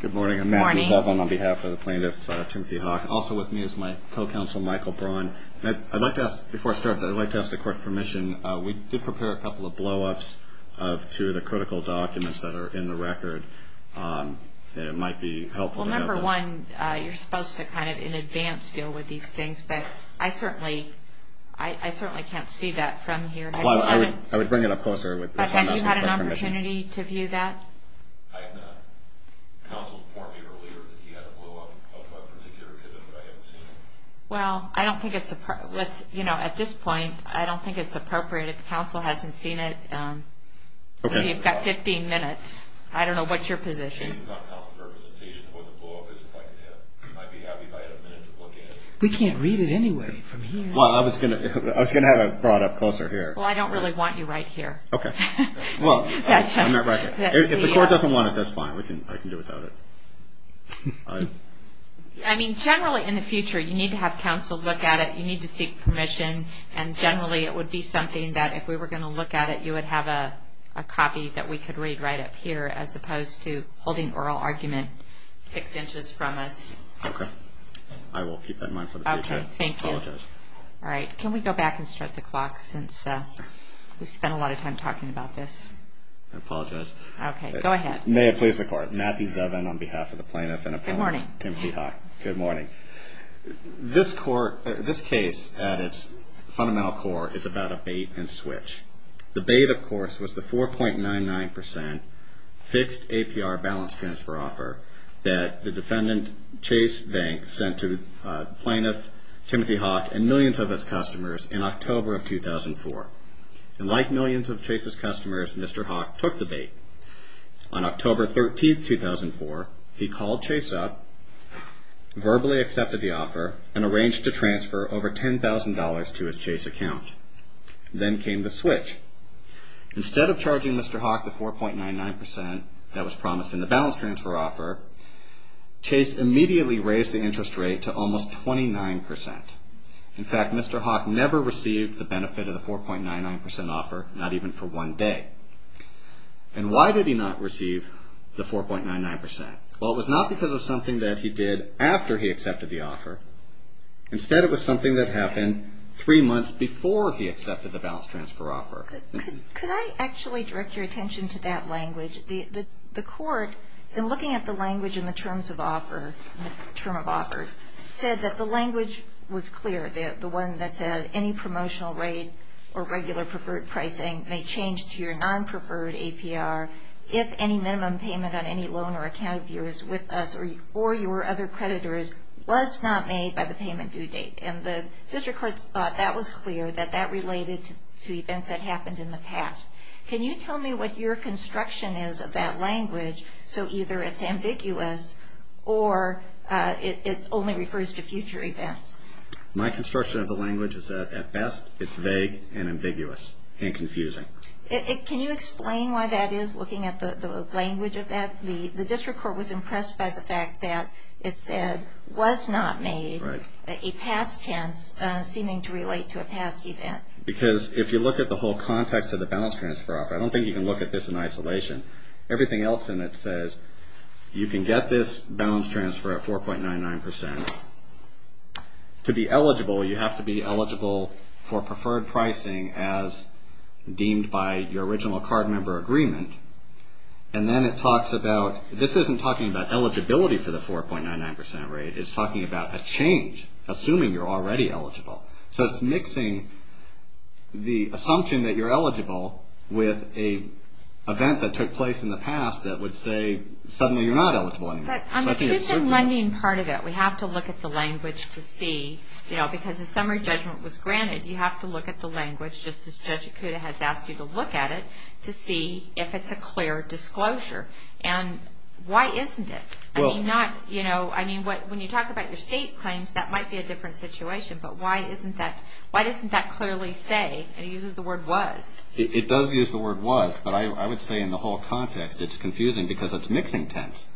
Good morning. I'm Matthew Devlin on behalf of the plaintiff, Timothy Hauk. Also with me is my co-counsel, Michael Braun. I'd like to ask, before I start, I'd like to ask the court permission. We did prepare a couple of blow-ups to the critical documents that are in the record that it might be helpful to know. Well, number one, you're supposed to kind of in advance deal with these things, but I certainly can't see that from here. Well, I would bring it up closer with the co-counsel's permission. Have you had an opportunity to view that? I have not. The counsel informed me earlier that he had a blow-up of a particular exhibit, but I haven't seen it. Well, I don't think it's, you know, at this point, I don't think it's appropriate if the counsel hasn't seen it. Okay. You've got 15 minutes. I don't know what's your position. It's not counsel's representation of what the blow-up is. If I could have, I'd be happy if I had a minute to look at it. We can't read it anyway from here. Well, I was going to have it brought up closer here. Well, I don't really want you right here. Okay. Well, I'm not right here. If the court doesn't want it, that's fine. I can do without it. I mean, generally in the future, you need to have counsel look at it. You need to seek permission, and generally it would be something that if we were going to look at it, you would have a copy that we could read right up here as opposed to holding oral argument six inches from us. Okay. I will keep that in mind for the future. Okay. Thank you. I apologize. All right. Can we go back and start the clock since we've spent a lot of time talking about this? I apologize. Okay. Go ahead. May it please the Court. Matthew Zevin on behalf of the Plaintiff and Appellant Timothy Hawk. Good morning. Good morning. This case at its fundamental core is about a bait-and-switch. The bait, of course, was the 4.99 percent fixed APR balance transfer offer that the defendant Chase Bank sent to Plaintiff Timothy Hawk and millions of its customers in October of 2004. And like millions of Chase's customers, Mr. Hawk took the bait. On October 13, 2004, he called Chase up, verbally accepted the offer, and arranged to transfer over $10,000 to his Chase account. Then came the switch. Instead of charging Mr. Hawk the 4.99 percent that was promised in the balance transfer offer, Chase immediately raised the interest rate to almost 29 percent. In fact, Mr. Hawk never received the benefit of the 4.99 percent offer, not even for one day. And why did he not receive the 4.99 percent? Well, it was not because of something that he did after he accepted the offer. Instead, it was something that happened three months before he accepted the balance transfer offer. Could I actually direct your attention to that language? The court, in looking at the language in the terms of offer, the term of offer, said that the language was clear, the one that said, any promotional rate or regular preferred pricing may change to your non-preferred APR if any minimum payment on any loan or account of yours with us or your other creditors was not made by the payment due date. And the district court thought that was clear, that that related to events that happened in the past. Can you tell me what your construction is of that language, so either it's ambiguous or it only refers to future events? My construction of the language is that, at best, it's vague and ambiguous and confusing. Can you explain why that is, looking at the language of that? The district court was impressed by the fact that it said, was not made a past chance seeming to relate to a past event. Because if you look at the whole context of the balance transfer offer, I don't think you can look at this in isolation. Everything else in it says you can get this balance transfer at 4.99 percent. To be eligible, you have to be eligible for preferred pricing as deemed by your original card member agreement. And then it talks about, this isn't talking about eligibility for the 4.99 percent rate, it's talking about a change, assuming you're already eligible. So it's mixing the assumption that you're eligible with an event that took place in the past that would say suddenly you're not eligible anymore. On the truth in lending part of it, we have to look at the language to see, because the summary judgment was granted, you have to look at the language, just as Judge Ikuda has asked you to look at it, to see if it's a clear disclosure. And why isn't it? I mean, when you talk about your state claims, that might be a different situation, but why doesn't that clearly say, it uses the word was. It does use the word was, but I would say in the whole context it's confusing because it's mixing tense.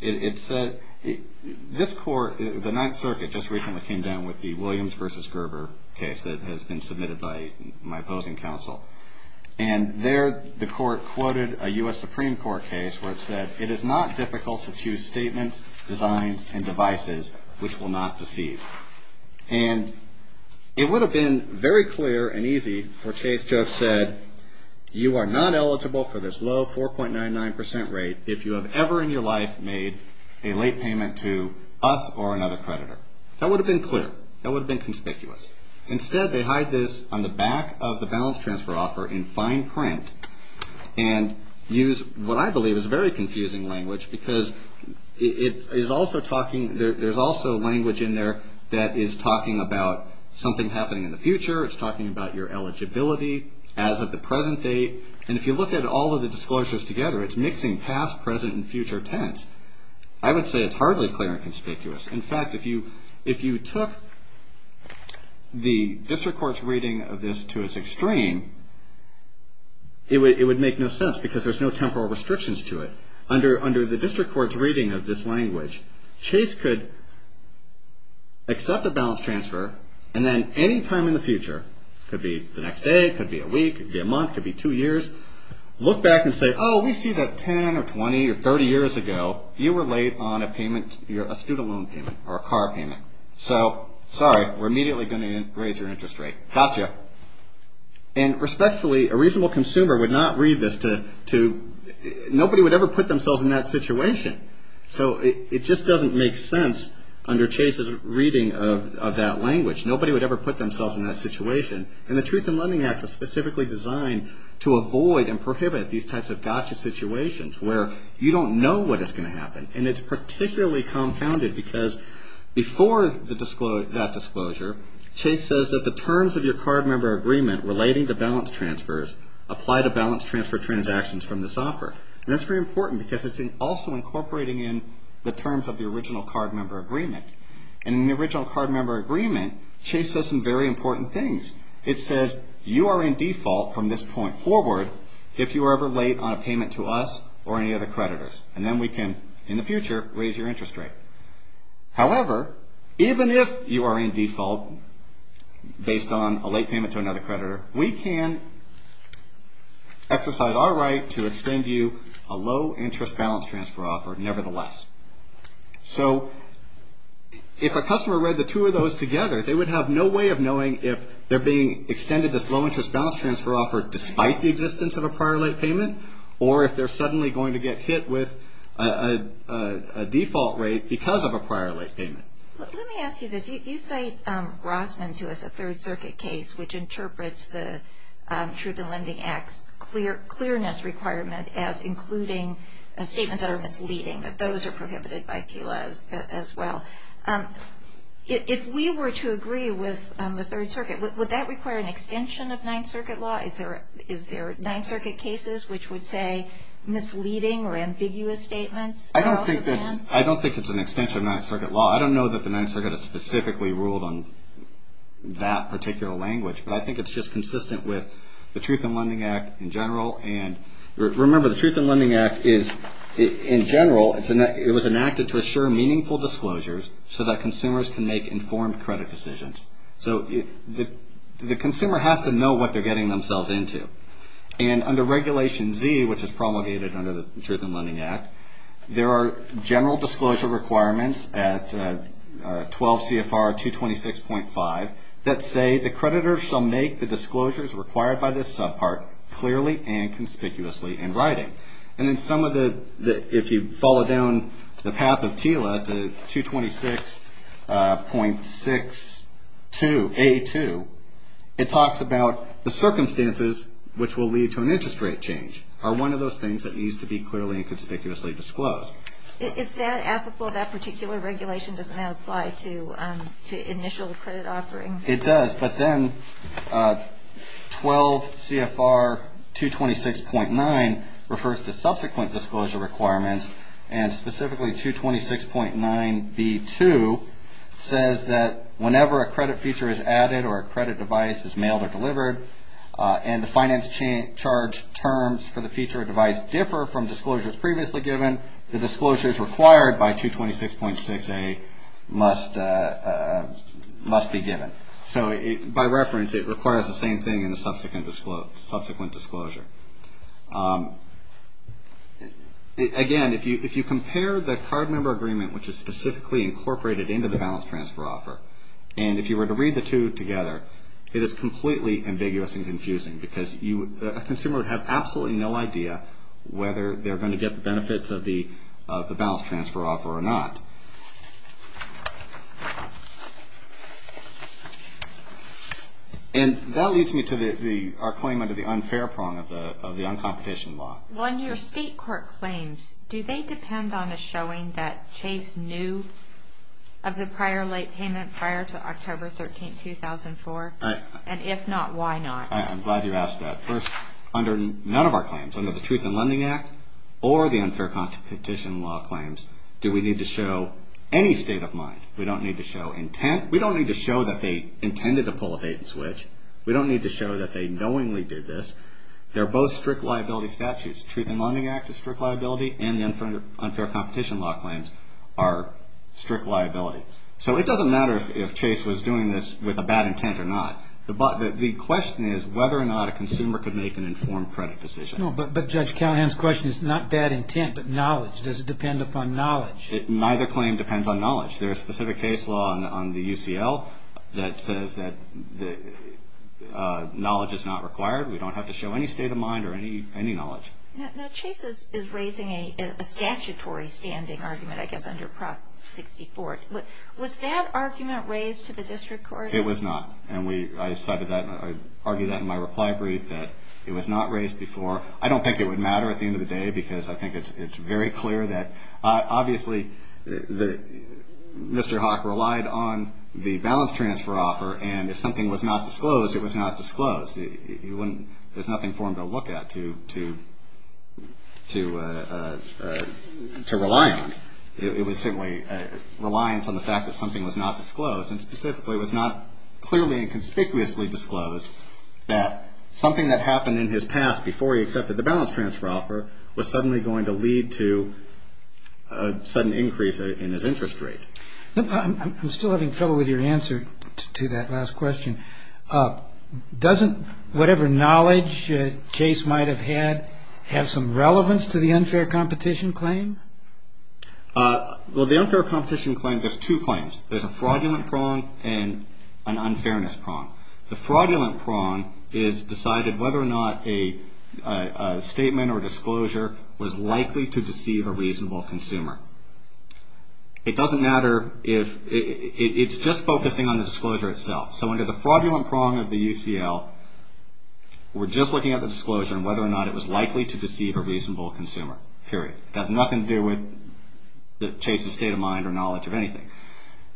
This court, the Ninth Circuit, just recently came down with the Williams v. Gerber case that has been submitted by my opposing counsel. And there the court quoted a U.S. Supreme Court case where it said, it is not difficult to choose statements, designs, and devices which will not deceive. And it would have been very clear and easy for Chase to have said, you are not eligible for this low 4.99% rate if you have ever in your life made a late payment to us or another creditor. That would have been clear. That would have been conspicuous. Instead, they hide this on the back of the balance transfer offer in fine print and use what I believe is very confusing language because it is also talking, there's also language in there that is talking about something happening in the future. It's talking about your eligibility as of the present date. And if you look at all of the disclosures together, it's mixing past, present, and future tense. I would say it's hardly clear and conspicuous. In fact, if you took the district court's reading of this to its extreme, it would make no sense because there's no temporal restrictions to it. Under the district court's reading of this language, Chase could accept a balance transfer and then any time in the future, it could be the next day, it could be a week, it could be a month, it could be two years, look back and say, oh, we see that 10 or 20 or 30 years ago you were late on a payment, a student loan payment or a car payment. So, sorry, we're immediately going to raise your interest rate. Gotcha. And respectfully, a reasonable consumer would not read this to, nobody would ever put themselves in that situation. So, it just doesn't make sense under Chase's reading of that language. Nobody would ever put themselves in that situation. And the Truth in Lending Act was specifically designed to avoid and prohibit these types of gotcha situations where you don't know what is going to happen. And it's particularly compounded because before that disclosure, Chase says that the terms of your card member agreement relating to balance transfers apply to balance transfer transactions from this offer. And that's very important because it's also incorporating in the terms of the original card member agreement. And in the original card member agreement, Chase says some very important things. It says you are in default from this point forward if you are ever late on a payment to us or any other creditors. And then we can, in the future, raise your interest rate. However, even if you are in default based on a late payment to another creditor, we can exercise our right to extend you a low interest balance transfer offer nevertheless. So, if a customer read the two of those together, they would have no way of knowing if they're being extended this low interest balance transfer offer despite the existence of a prior late payment or if they're suddenly going to get hit with a default rate because of a prior late payment. Let me ask you this. You say, Rossman, to us, a Third Circuit case, which interprets the Truth in Lending Act's clearness requirement as including statements that are misleading, that those are prohibited by TULA as well. If we were to agree with the Third Circuit, would that require an extension of Ninth Circuit law? Is there Ninth Circuit cases which would say misleading or ambiguous statements? I don't think it's an extension of Ninth Circuit law. I don't know that the Ninth Circuit has specifically ruled on that particular language, but I think it's just consistent with the Truth in Lending Act in general. And remember, the Truth in Lending Act is, in general, it was enacted to assure meaningful disclosures so that consumers can make informed credit decisions. So, the consumer has to know what they're getting themselves into. And under Regulation Z, which is promulgated under the Truth in Lending Act, there are general disclosure requirements at 12 CFR 226.5 that say, the creditor shall make the disclosures required by this subpart clearly and conspicuously in writing. And then some of the, if you follow down the path of TULA to 226.62A2, it talks about the circumstances which will lead to an interest rate change are one of those things that needs to be clearly and conspicuously disclosed. Is that applicable? That particular regulation does not apply to initial credit offerings? It does, but then 12 CFR 226.9 refers to subsequent disclosure requirements, and specifically 226.9B2 says that whenever a credit feature is added or a credit device is mailed or delivered and the finance charge terms for the feature or device differ from disclosures previously given, the disclosures required by 226.6A must be given. So, by reference, it requires the same thing in the subsequent disclosure. Again, if you compare the card member agreement, which is specifically incorporated into the balance transfer offer, and if you were to read the two together, it is completely ambiguous and confusing because a consumer would have absolutely no idea whether they're going to get the benefits of the balance transfer offer or not. And that leads me to our claim under the unfair prong of the uncompetition law. Well, in your state court claims, do they depend on a showing that Chase knew of the prior late payment prior to October 13, 2004? And if not, why not? I'm glad you asked that. First, under none of our claims, under the Truth in Lending Act or the unfair competition law claims, do we need to show any state of mind? We don't need to show intent. We don't need to show that they intended to pull a bait and switch. We don't need to show that they knowingly did this. They're both strict liability statutes. The Truth in Lending Act is strict liability, and the unfair competition law claims are strict liability. So it doesn't matter if Chase was doing this with a bad intent or not. The question is whether or not a consumer could make an informed credit decision. No, but Judge Callahan's question is not bad intent but knowledge. Does it depend upon knowledge? Neither claim depends on knowledge. There's a specific case law on the UCL that says that knowledge is not required. We don't have to show any state of mind or any knowledge. Now, Chase is raising a statutory standing argument, I guess, under Prop 64. Was that argument raised to the district court? It was not, and I cited that. I argued that in my reply brief that it was not raised before. I don't think it would matter at the end of the day because I think it's very clear that, obviously, Mr. Hawk relied on the balance transfer offer, and if something was not disclosed, it was not disclosed. There's nothing for him to look at to rely on. It was simply reliance on the fact that something was not disclosed, and specifically it was not clearly and conspicuously disclosed that something that happened in his past before he accepted the balance transfer offer was suddenly going to lead to a sudden increase in his interest rate. I'm still having trouble with your answer to that last question. Doesn't whatever knowledge Chase might have had have some relevance to the unfair competition claim? Well, the unfair competition claim, there's two claims. There's a fraudulent prong and an unfairness prong. The fraudulent prong is decided whether or not a statement or disclosure was likely to deceive a reasonable consumer. It doesn't matter if it's just focusing on the disclosure itself. So under the fraudulent prong of the UCL, we're just looking at the disclosure and whether or not it was likely to deceive a reasonable consumer, period. It has nothing to do with Chase's state of mind or knowledge of anything.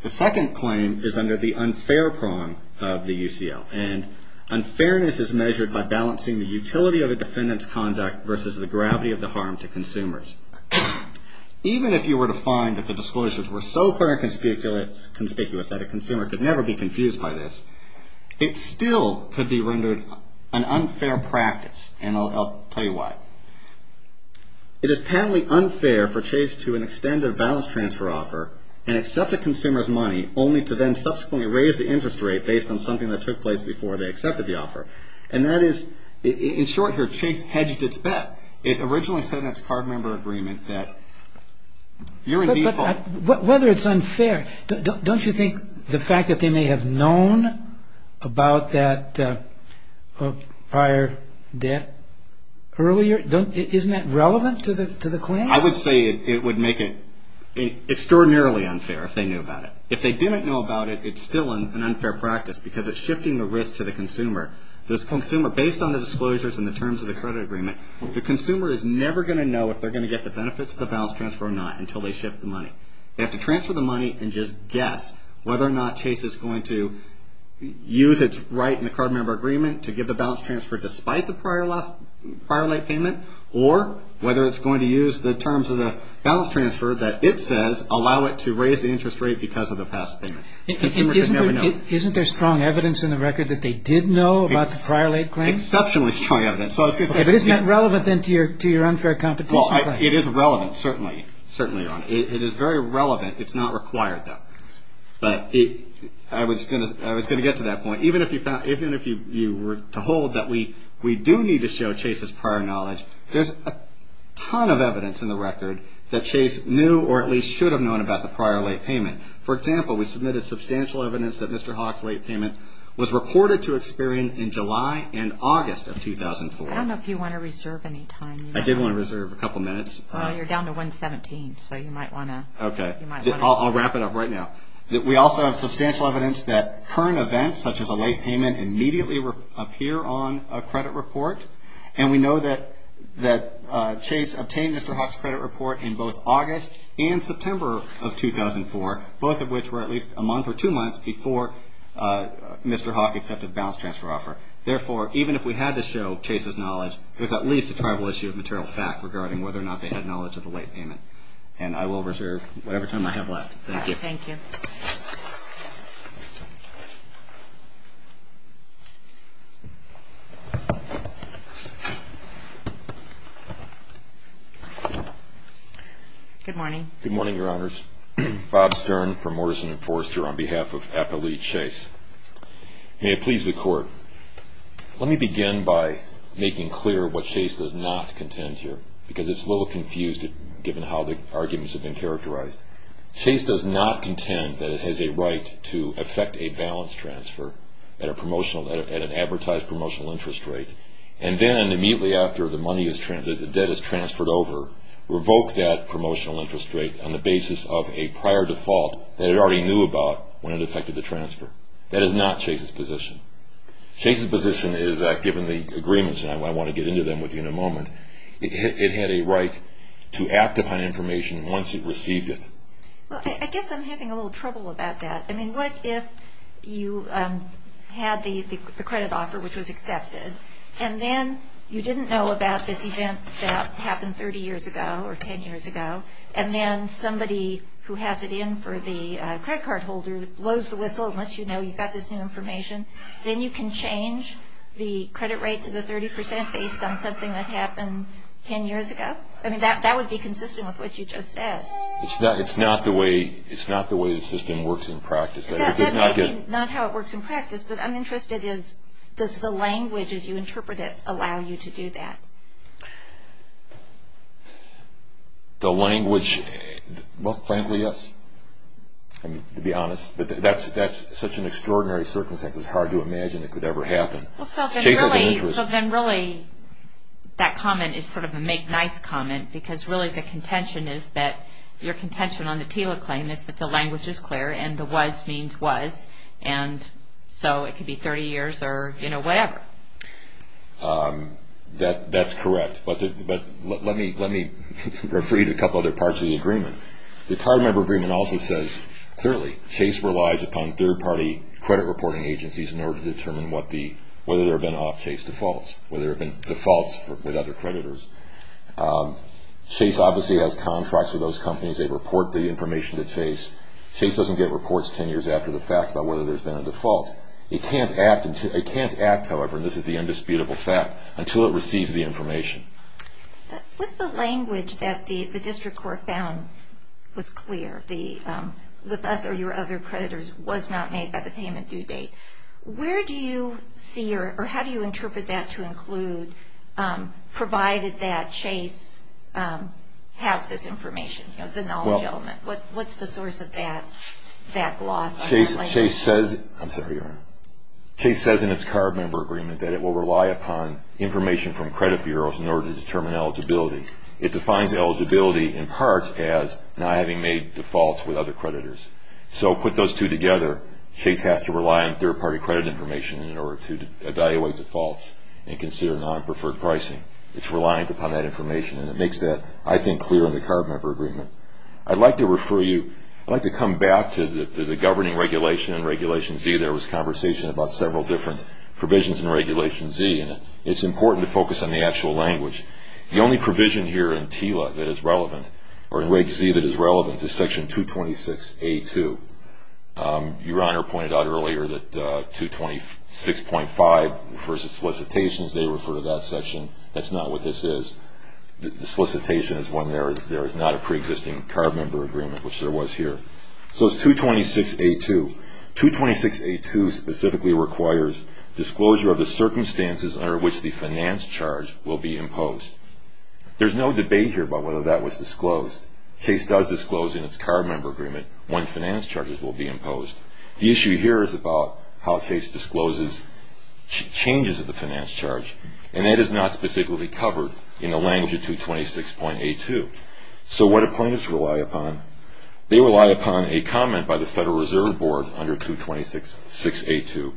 The second claim is under the unfair prong of the UCL, and unfairness is measured by balancing the utility of a defendant's conduct versus the gravity of the harm to consumers. Even if you were to find that the disclosures were so clear and conspicuous that a consumer could never be confused by this, it still could be rendered an unfair practice, and I'll tell you why. It is apparently unfair for Chase to extend a balance transfer offer and accept a consumer's money only to then subsequently raise the interest rate based on something that took place before they accepted the offer. And that is, in short here, Chase hedged its bet. It originally said in its card member agreement that you're in default. Whether it's unfair, don't you think the fact that they may have known about that prior debt earlier, isn't that relevant to the claim? I would say it would make it extraordinarily unfair if they knew about it. If they didn't know about it, it's still an unfair practice because it's shifting the risk to the consumer. Based on the disclosures and the terms of the credit agreement, the consumer is never going to know if they're going to get the benefits of the balance transfer or not until they shift the money. They have to transfer the money and just guess whether or not Chase is going to use its right in the card member agreement to give the balance transfer despite the prior late payment or whether it's going to use the terms of the balance transfer that it says allow it to raise the interest rate because of the past payment. Isn't there strong evidence in the record that they did know about the prior late claim? Exceptionally strong evidence. But isn't that relevant then to your unfair competition? Well, it is relevant, certainly. It is very relevant. It's not required, though. But I was going to get to that point. Even if you were told that we do need to show Chase's prior knowledge, there's a ton of evidence in the record that Chase knew or at least should have known about the prior late payment. For example, we submitted substantial evidence that Mr. Hawk's late payment was reported to Experian in July and August of 2004. I don't know if you want to reserve any time. I did want to reserve a couple minutes. Well, you're down to 1.17, so you might want to. Okay. I'll wrap it up right now. We also have substantial evidence that current events, such as a late payment, immediately appear on a credit report, and we know that Chase obtained Mr. Hawk's credit report in both August and September of 2004, both of which were at least a month or two months before Mr. Hawk accepted a balance transfer offer. Therefore, even if we had to show Chase's knowledge, there's at least a tribal issue of material fact regarding whether or not they had knowledge of the late payment. And I will reserve whatever time I have left. Thank you. Thank you. Good morning. Good morning, Your Honors. Bob Stern from Morrison & Forrester on behalf of Appalachia Chase. May it please the Court. Let me begin by making clear what Chase does not contend here, because it's a little confused, given how the arguments have been characterized. Chase does not contend that it has a right to effect a balance transfer at an advertised promotional interest rate, and then immediately after the debt is transferred over, revoke that promotional interest rate on the basis of a prior default that it already knew about when it effected the transfer. That is not Chase's position. Chase's position is that given the agreements, and I want to get into them with you in a moment, it had a right to act upon information once it received it. Well, I guess I'm having a little trouble about that. I mean, what if you had the credit offer, which was accepted, and then you didn't know about this event that happened 30 years ago or 10 years ago, and then somebody who has it in for the credit card holder blows the whistle and lets you know you've got this new information. Then you can change the credit rate to the 30 percent based on something that happened 10 years ago? I mean, that would be consistent with what you just said. It's not the way the system works in practice. Yeah, that's not how it works in practice, but I'm interested in, does the language as you interpret it allow you to do that? The language, well, frankly, yes, to be honest. But that's such an extraordinary circumstance. It's hard to imagine it could ever happen. Chase has an interest. So then really that comment is sort of a make-nice comment because really the contention is that your contention on the TILA claim is that the language is clear and the was means was, and so it could be 30 years or whatever. That's correct. But let me read a couple other parts of the agreement. The card member agreement also says, clearly Chase relies upon third-party credit reporting agencies in order to determine whether there have been off-Chase defaults, whether there have been defaults with other creditors. Chase obviously has contracts with those companies. They report the information to Chase. Chase doesn't get reports 10 years after the fact about whether there's been a default. It can't act, however, and this is the indisputable fact, until it receives the information. With the language that the district court found was clear, the thus are your other creditors was not made by the payment due date, where do you see or how do you interpret that to include provided that Chase has this information, the knowledge element? What's the source of that loss? Chase says in its card member agreement that it will rely upon information from credit bureaus in order to determine eligibility. It defines eligibility in part as not having made defaults with other creditors. So put those two together, Chase has to rely on third-party credit information in order to evaluate defaults and consider non-preferred pricing. It's reliant upon that information, and it makes that, I think, clear in the card member agreement. I'd like to refer you, I'd like to come back to the governing regulation and Regulation Z. There was conversation about several different provisions in Regulation Z, and it's important to focus on the actual language. The only provision here in TILA that is relevant, or in Reg Z that is relevant, is Section 226A2. Your Honor pointed out earlier that 226.5 refers to solicitations. They refer to that section. That's not what this is. The solicitation is when there is not a preexisting card member agreement, which there was here. So it's 226A2. 226A2 specifically requires disclosure of the circumstances under which the finance charge will be imposed. There's no debate here about whether that was disclosed. Chase does disclose in its card member agreement when finance charges will be imposed. The issue here is about how Chase discloses changes of the finance charge, and that is not specifically covered in the language of 226.A2. So what do plaintiffs rely upon? They rely upon a comment by the Federal Reserve Board under 226.6A2,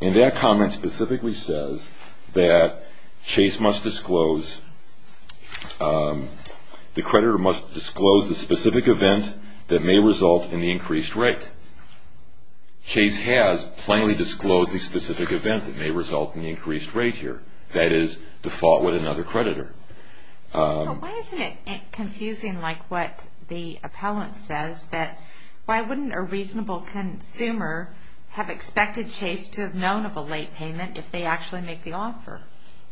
and that comment specifically says that Chase must disclose, the creditor must disclose the specific event that may result in the increased rate. Chase has plainly disclosed the specific event that may result in the increased rate here. That is default with another creditor. Why isn't it confusing like what the appellant says that why wouldn't a reasonable consumer have expected Chase to have known of a late payment if they actually make the offer?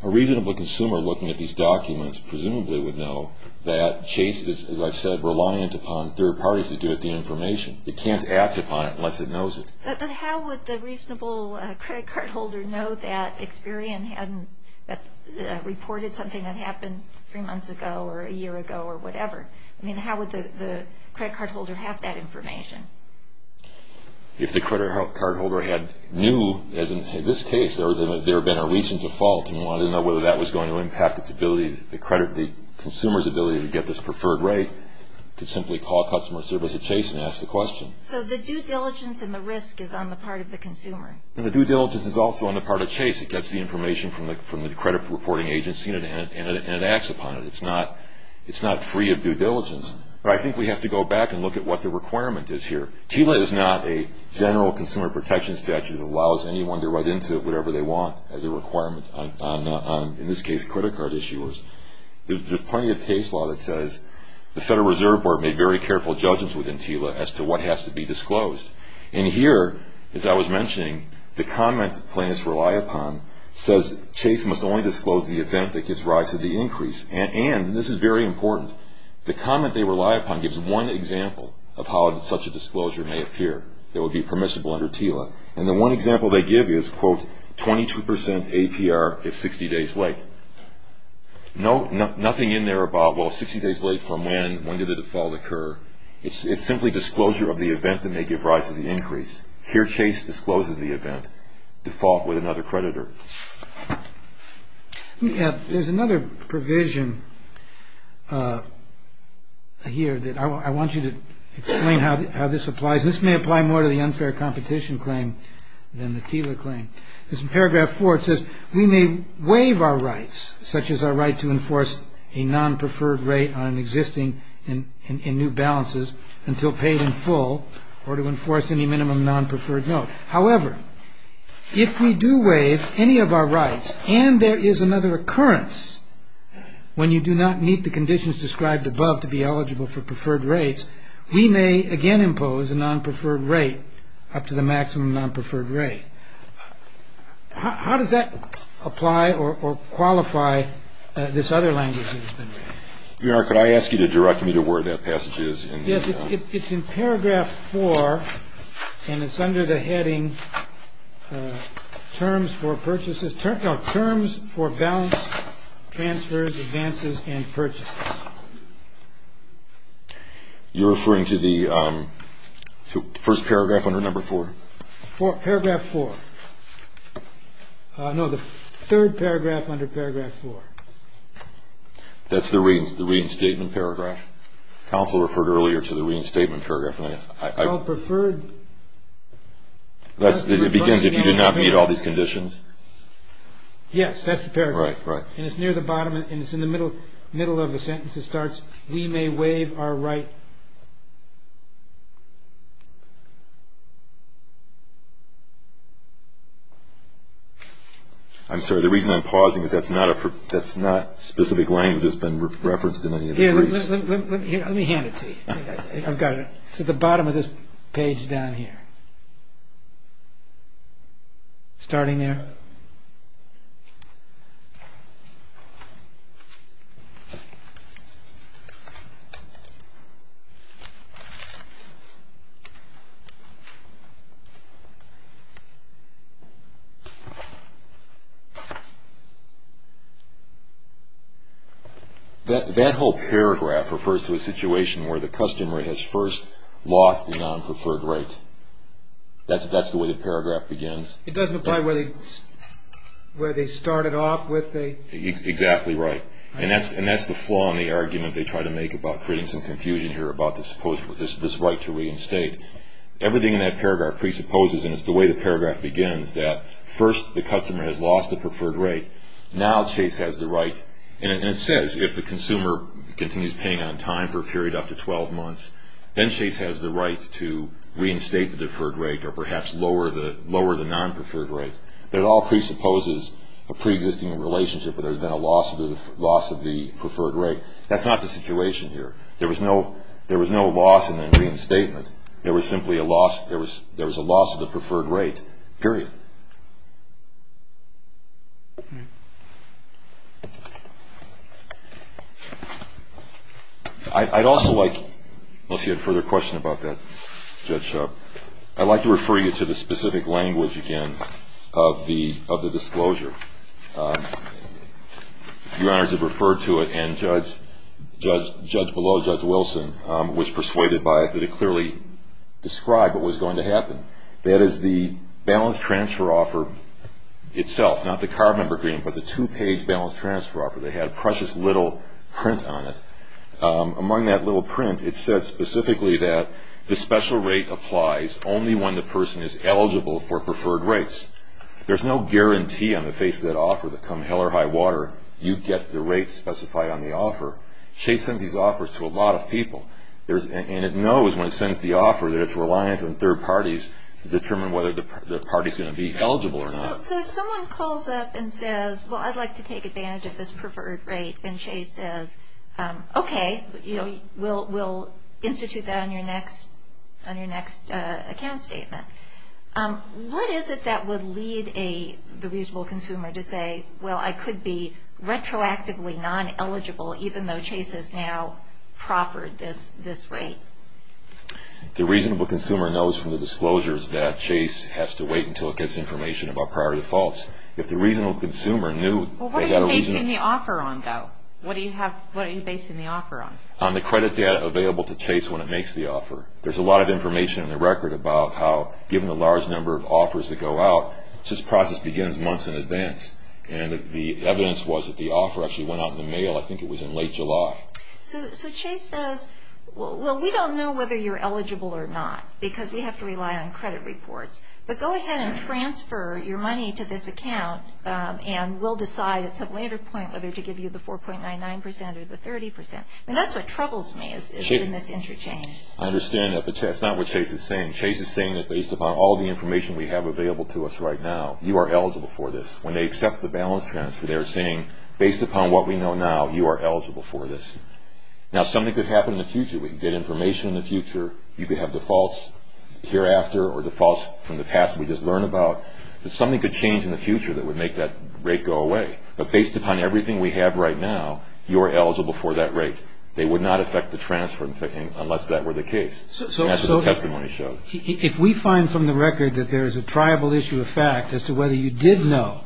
A reasonable consumer looking at these documents presumably would know that Chase is, as I said, reliant upon third parties to give it the information. They can't act upon it unless it knows it. But how would the reasonable credit card holder know that Experian had reported something that happened three months ago or a year ago or whatever? I mean, how would the credit card holder have that information? If the credit card holder knew, as in this case, there had been a recent default and wanted to know whether that was going to impact the consumer's ability to get this preferred rate, they could simply call customer service at Chase and ask the question. So the due diligence and the risk is on the part of the consumer. The due diligence is also on the part of Chase. It gets the information from the credit reporting agency and it acts upon it. It's not free of due diligence. But I think we have to go back and look at what the requirement is here. TILA is not a general consumer protection statute that allows anyone to write into it whatever they want as a requirement, in this case credit card issuers. There's plenty of case law that says the Federal Reserve Board made very careful judgments within TILA as to what has to be disclosed. And here, as I was mentioning, the comment plaintiffs rely upon says Chase must only disclose the event that gives rise to the increase. And this is very important. The comment they rely upon gives one example of how such a disclosure may appear that would be permissible under TILA. And the one example they give is, quote, 22% APR if 60 days late. Nothing in there about, well, 60 days late from when, when did the default occur. It's simply disclosure of the event that may give rise to the increase. Here Chase discloses the event. Default with another creditor. There's another provision here that I want you to explain how this applies. This may apply more to the unfair competition claim than the TILA claim. This paragraph 4 says, we may waive our rights, such as our right to enforce a non-preferred rate on existing and new balances until paid in full or to enforce any minimum non-preferred note. However, if we do waive any of our rights and there is another occurrence when you do not meet the conditions described above to be eligible for preferred rates, we may again impose a non-preferred rate up to the maximum non-preferred rate. How does that apply or qualify this other language? Your Honor, could I ask you to direct me to where that passage is? Yes, it's in paragraph 4, and it's under the heading terms for purchases, no, terms for balance transfers, advances, and purchases. You're referring to the first paragraph under number 4? Paragraph 4. No, the third paragraph under paragraph 4. That's the reading statement paragraph. Counsel referred earlier to the reading statement paragraph. It begins, if you do not meet all these conditions. Yes, that's the paragraph. Right, right. And it's near the bottom, and it's in the middle of the sentence. It starts, we may waive our right. I'm sorry, the reason I'm pausing is that's not specific language that's been referenced in any of the briefs. Here, let me hand it to you. I've got it. It's at the bottom of this page down here. Starting there. Okay. That whole paragraph refers to a situation where the customer has first lost the non-preferred right. That's the way the paragraph begins. It doesn't apply where they started off with the? Exactly right. And that's the flaw in the argument they try to make about creating some confusion here about this right to reinstate. Everything in that paragraph presupposes, and it's the way the paragraph begins, that first the customer has lost the preferred right. Now Chase has the right. And it says if the consumer continues paying on time for a period up to 12 months, then Chase has the right to reinstate the deferred right or perhaps lower the non-preferred right. But it all presupposes a preexisting relationship where there's been a loss of the preferred right. That's not the situation here. There was no loss in the reinstatement. There was simply a loss. There was a loss of the preferred right, period. I'd also like, unless you had a further question about that, Judge, I'd like to refer you to the specific language, again, of the disclosure. Your Honors have referred to it, and Judge Below, Judge Wilson, was persuaded by it that it clearly described what was going to happen. That is the balance transfer offer itself, not the carbon agreement, but the two-page balance transfer offer. They had a precious little print on it. Among that little print, it says specifically that the special rate applies only when the person is eligible for preferred rights. There's no guarantee on the face of that offer that come hell or high water, you get the rates specified on the offer. Chase sends these offers to a lot of people, and it knows when it sends the offer that it's reliant on third parties to determine whether the party's going to be eligible or not. So if someone calls up and says, well, I'd like to take advantage of this preferred rate, and Chase says, okay, we'll institute that on your next account statement, what is it that would lead the reasonable consumer to say, well, I could be retroactively non-eligible even though Chase has now proffered this rate? The reasonable consumer knows from the disclosures that Chase has to wait until it gets information about prior defaults. Well, what are you basing the offer on, though? What are you basing the offer on? On the credit data available to Chase when it makes the offer. There's a lot of information in the record about how, given the large number of offers that go out, this process begins months in advance. And the evidence was that the offer actually went out in the mail. I think it was in late July. So Chase says, well, we don't know whether you're eligible or not because we have to rely on credit reports, but go ahead and transfer your money to this account, and we'll decide at some later point whether to give you the 4.99% or the 30%. I mean, that's what troubles me in this interchange. I understand that, but that's not what Chase is saying. Chase is saying that based upon all the information we have available to us right now, you are eligible for this. When they accept the balance transfer, they're saying, based upon what we know now, you are eligible for this. Now, something could happen in the future. We get information in the future. You could have defaults hereafter or defaults from the past we just learned about. Something could change in the future that would make that rate go away. But based upon everything we have right now, you are eligible for that rate. They would not affect the transfer unless that were the case. That's what the testimony showed. So if we find from the record that there is a triable issue of fact as to whether you did know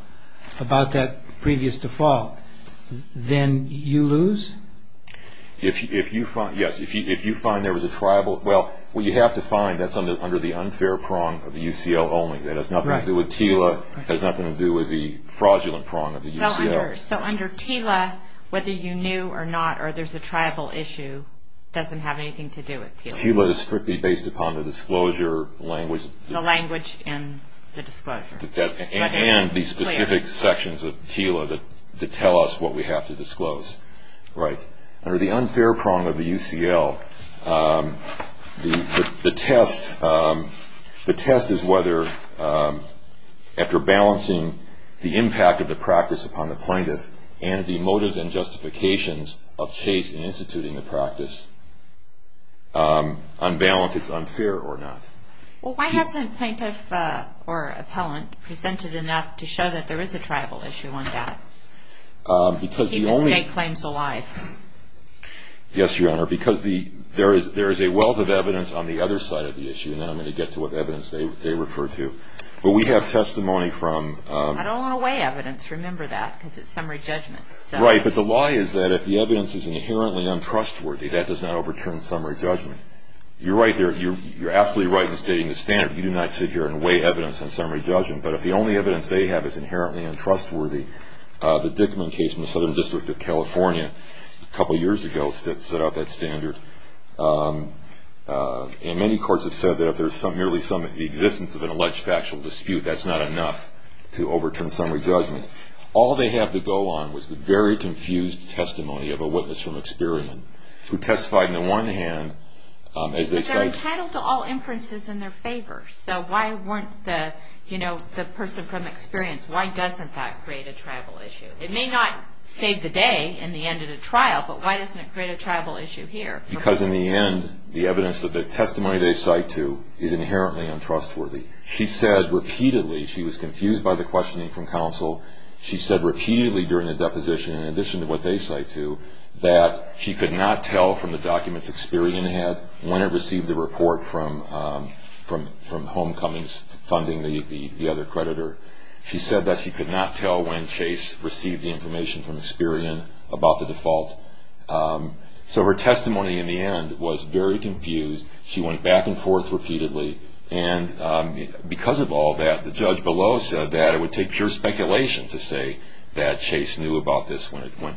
about that previous default, then you lose? Yes. If you find there was a triable, well, what you have to find, that's under the unfair prong of the UCL only. That has nothing to do with TILA. It has nothing to do with the fraudulent prong of the UCL. So under TILA, whether you knew or not or there's a triable issue doesn't have anything to do with TILA. TILA is strictly based upon the disclosure language. The language and the disclosure. And the specific sections of TILA that tell us what we have to disclose. Right. Under the unfair prong of the UCL, the test is whether after balancing the impact of the practice upon the plaintiff and the motives and justifications of Chase in instituting the practice, on balance it's unfair or not. Well, why hasn't plaintiff or appellant presented enough to show that there is a triable issue on that? To keep the state claims alive. Yes, Your Honor. Because there is a wealth of evidence on the other side of the issue, and I'm going to get to what evidence they refer to. But we have testimony from – I don't want to weigh evidence. Remember that, because it's summary judgment. Right. But the lie is that if the evidence is inherently untrustworthy, that does not overturn summary judgment. You're right there. You're absolutely right in stating the standard. You do not sit here and weigh evidence on summary judgment. But if the only evidence they have is inherently untrustworthy, the Dickman case in the Southern District of California a couple of years ago set out that standard. And many courts have said that if there's merely some existence of an alleged factual dispute, that's not enough to overturn summary judgment. All they have to go on was the very confused testimony of a witness from experiment who testified, on the one hand, as they say – But they're entitled to all inferences in their favor. So why weren't the – you know, the person from experience, why doesn't that create a tribal issue? It may not save the day in the end of the trial, but why doesn't it create a tribal issue here? Because in the end, the evidence that the testimony they cite to is inherently untrustworthy. She said repeatedly – she was confused by the questioning from counsel. She said repeatedly during the deposition, in addition to what they cite to, that she could not tell from the documents Experian had when it received the report from Homecoming's funding, the other creditor. She said that she could not tell when Chase received the information from Experian about the default. So her testimony in the end was very confused. She went back and forth repeatedly. And because of all that, the judge below said that it would take pure speculation to say that Chase knew about this,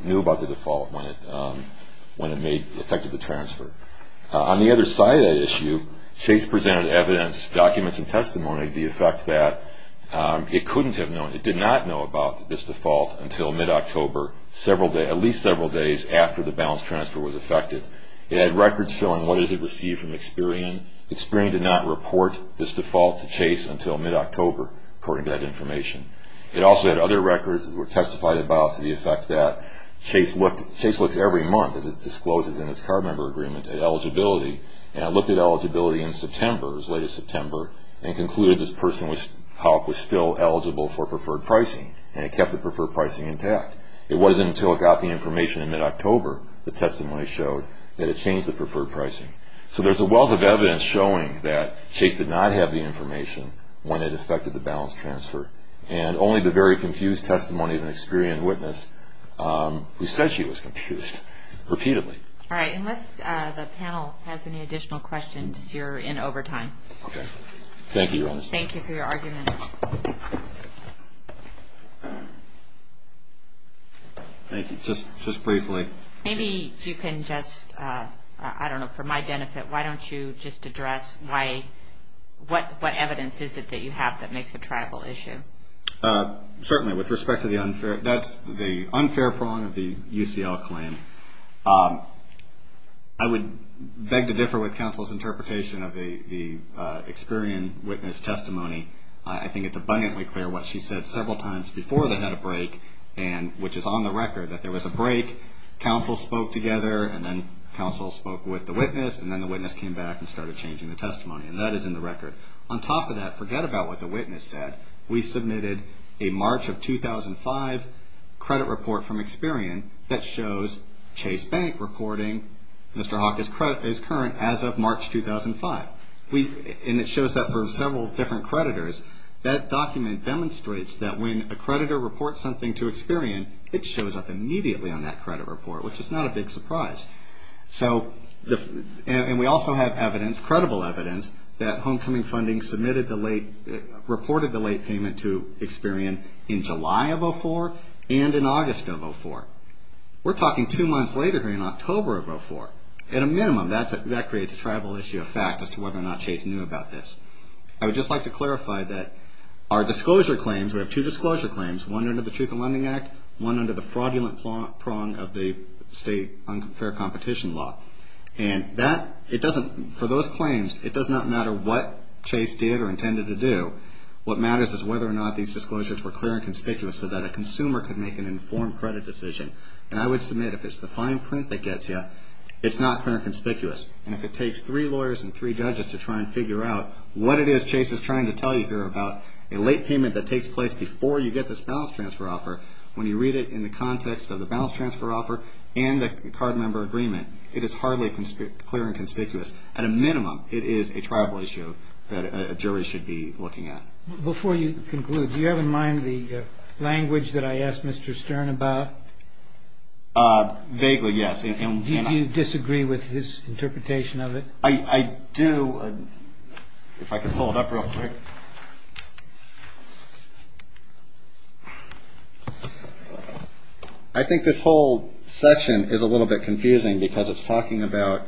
knew about the default when it made – affected the transfer. On the other side of that issue, Chase presented evidence, documents, and testimony to the effect that it couldn't have known – it did not know about this default until mid-October, at least several days after the balance transfer was effected. It had records showing what it had received from Experian. Experian did not report this default to Chase until mid-October, according to that information. It also had other records that were testified about to the effect that Chase looked – Chase looks every month, as it discloses in its card member agreement, at eligibility. And it looked at eligibility in September, as late as September, and concluded this person was still eligible for preferred pricing. And it kept the preferred pricing intact. It wasn't until it got the information in mid-October, the testimony showed, that it changed the preferred pricing. So there's a wealth of evidence showing that Chase did not have the information when it affected the balance transfer. And only the very confused testimony of an Experian witness, who said she was confused, repeatedly. All right. Unless the panel has any additional questions, you're in over time. Okay. Thank you, Your Honor. Thank you for your argument. Thank you. Just briefly. Maybe you can just, I don't know, for my benefit, why don't you just address what evidence is it that you have that makes a tribal issue? Certainly. With respect to the unfair – that's the unfair prong of the UCL claim. I would beg to differ with counsel's interpretation of the Experian witness testimony. I think it's abundantly clear what she said several times before they had a break, which is on the record that there was a break. Counsel spoke together, and then counsel spoke with the witness, and then the witness came back and started changing the testimony. And that is in the record. On top of that, forget about what the witness said. We submitted a March of 2005 credit report from Experian that shows Chase Bank reporting Mr. Hawk is current as of March 2005. And it shows that for several different creditors. That document demonstrates that when a creditor reports something to Experian, it shows up immediately on that credit report, which is not a big surprise. And we also have evidence, credible evidence, that Homecoming Funding reported the late payment to Experian in July of 2004 and in August of 2004. We're talking two months later here in October of 2004. At a minimum, that creates a tribal issue of fact as to whether or not Chase knew about this. I would just like to clarify that our disclosure claims, we have two disclosure claims, one under the Truth in Lending Act, one under the fraudulent prong of the state unfair competition law. And for those claims, it does not matter what Chase did or intended to do. What matters is whether or not these disclosures were clear and conspicuous so that a consumer could make an informed credit decision. And I would submit if it's the fine print that gets you, it's not clear and conspicuous. And if it takes three lawyers and three judges to try and figure out what it is Chase is trying to tell you here about a late payment that takes place before you get this balance transfer offer, when you read it in the context of the balance transfer offer and the card member agreement, it is hardly clear and conspicuous. At a minimum, it is a tribal issue that a jury should be looking at. Before you conclude, do you have in mind the language that I asked Mr. Stern about? Vaguely, yes. Did you disagree with his interpretation of it? I do. If I could pull it up real quick. I think this whole section is a little bit confusing because it's talking about,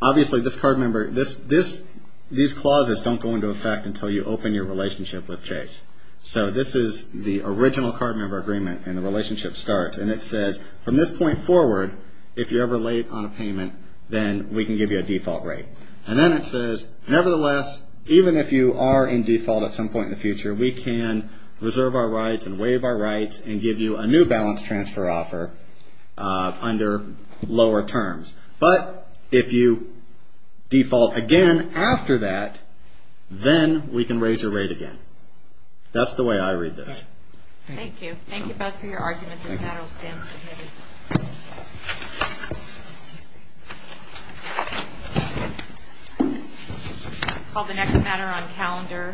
obviously this card member, these clauses don't go into effect until you open your relationship with Chase. So this is the original card member agreement and the relationship starts. And it says, from this point forward, if you're ever late on a payment, then we can give you a default rate. And then it says, nevertheless, even if you are in default at some point in the future, we can reserve our rights and waive our rights and give you a new balance transfer offer under lower terms. But if you default again after that, then we can raise your rate again. That's the way I read this. Thank you. Thank you both for your argument. This matter will stand submitted. I'll call the next matter on calendar.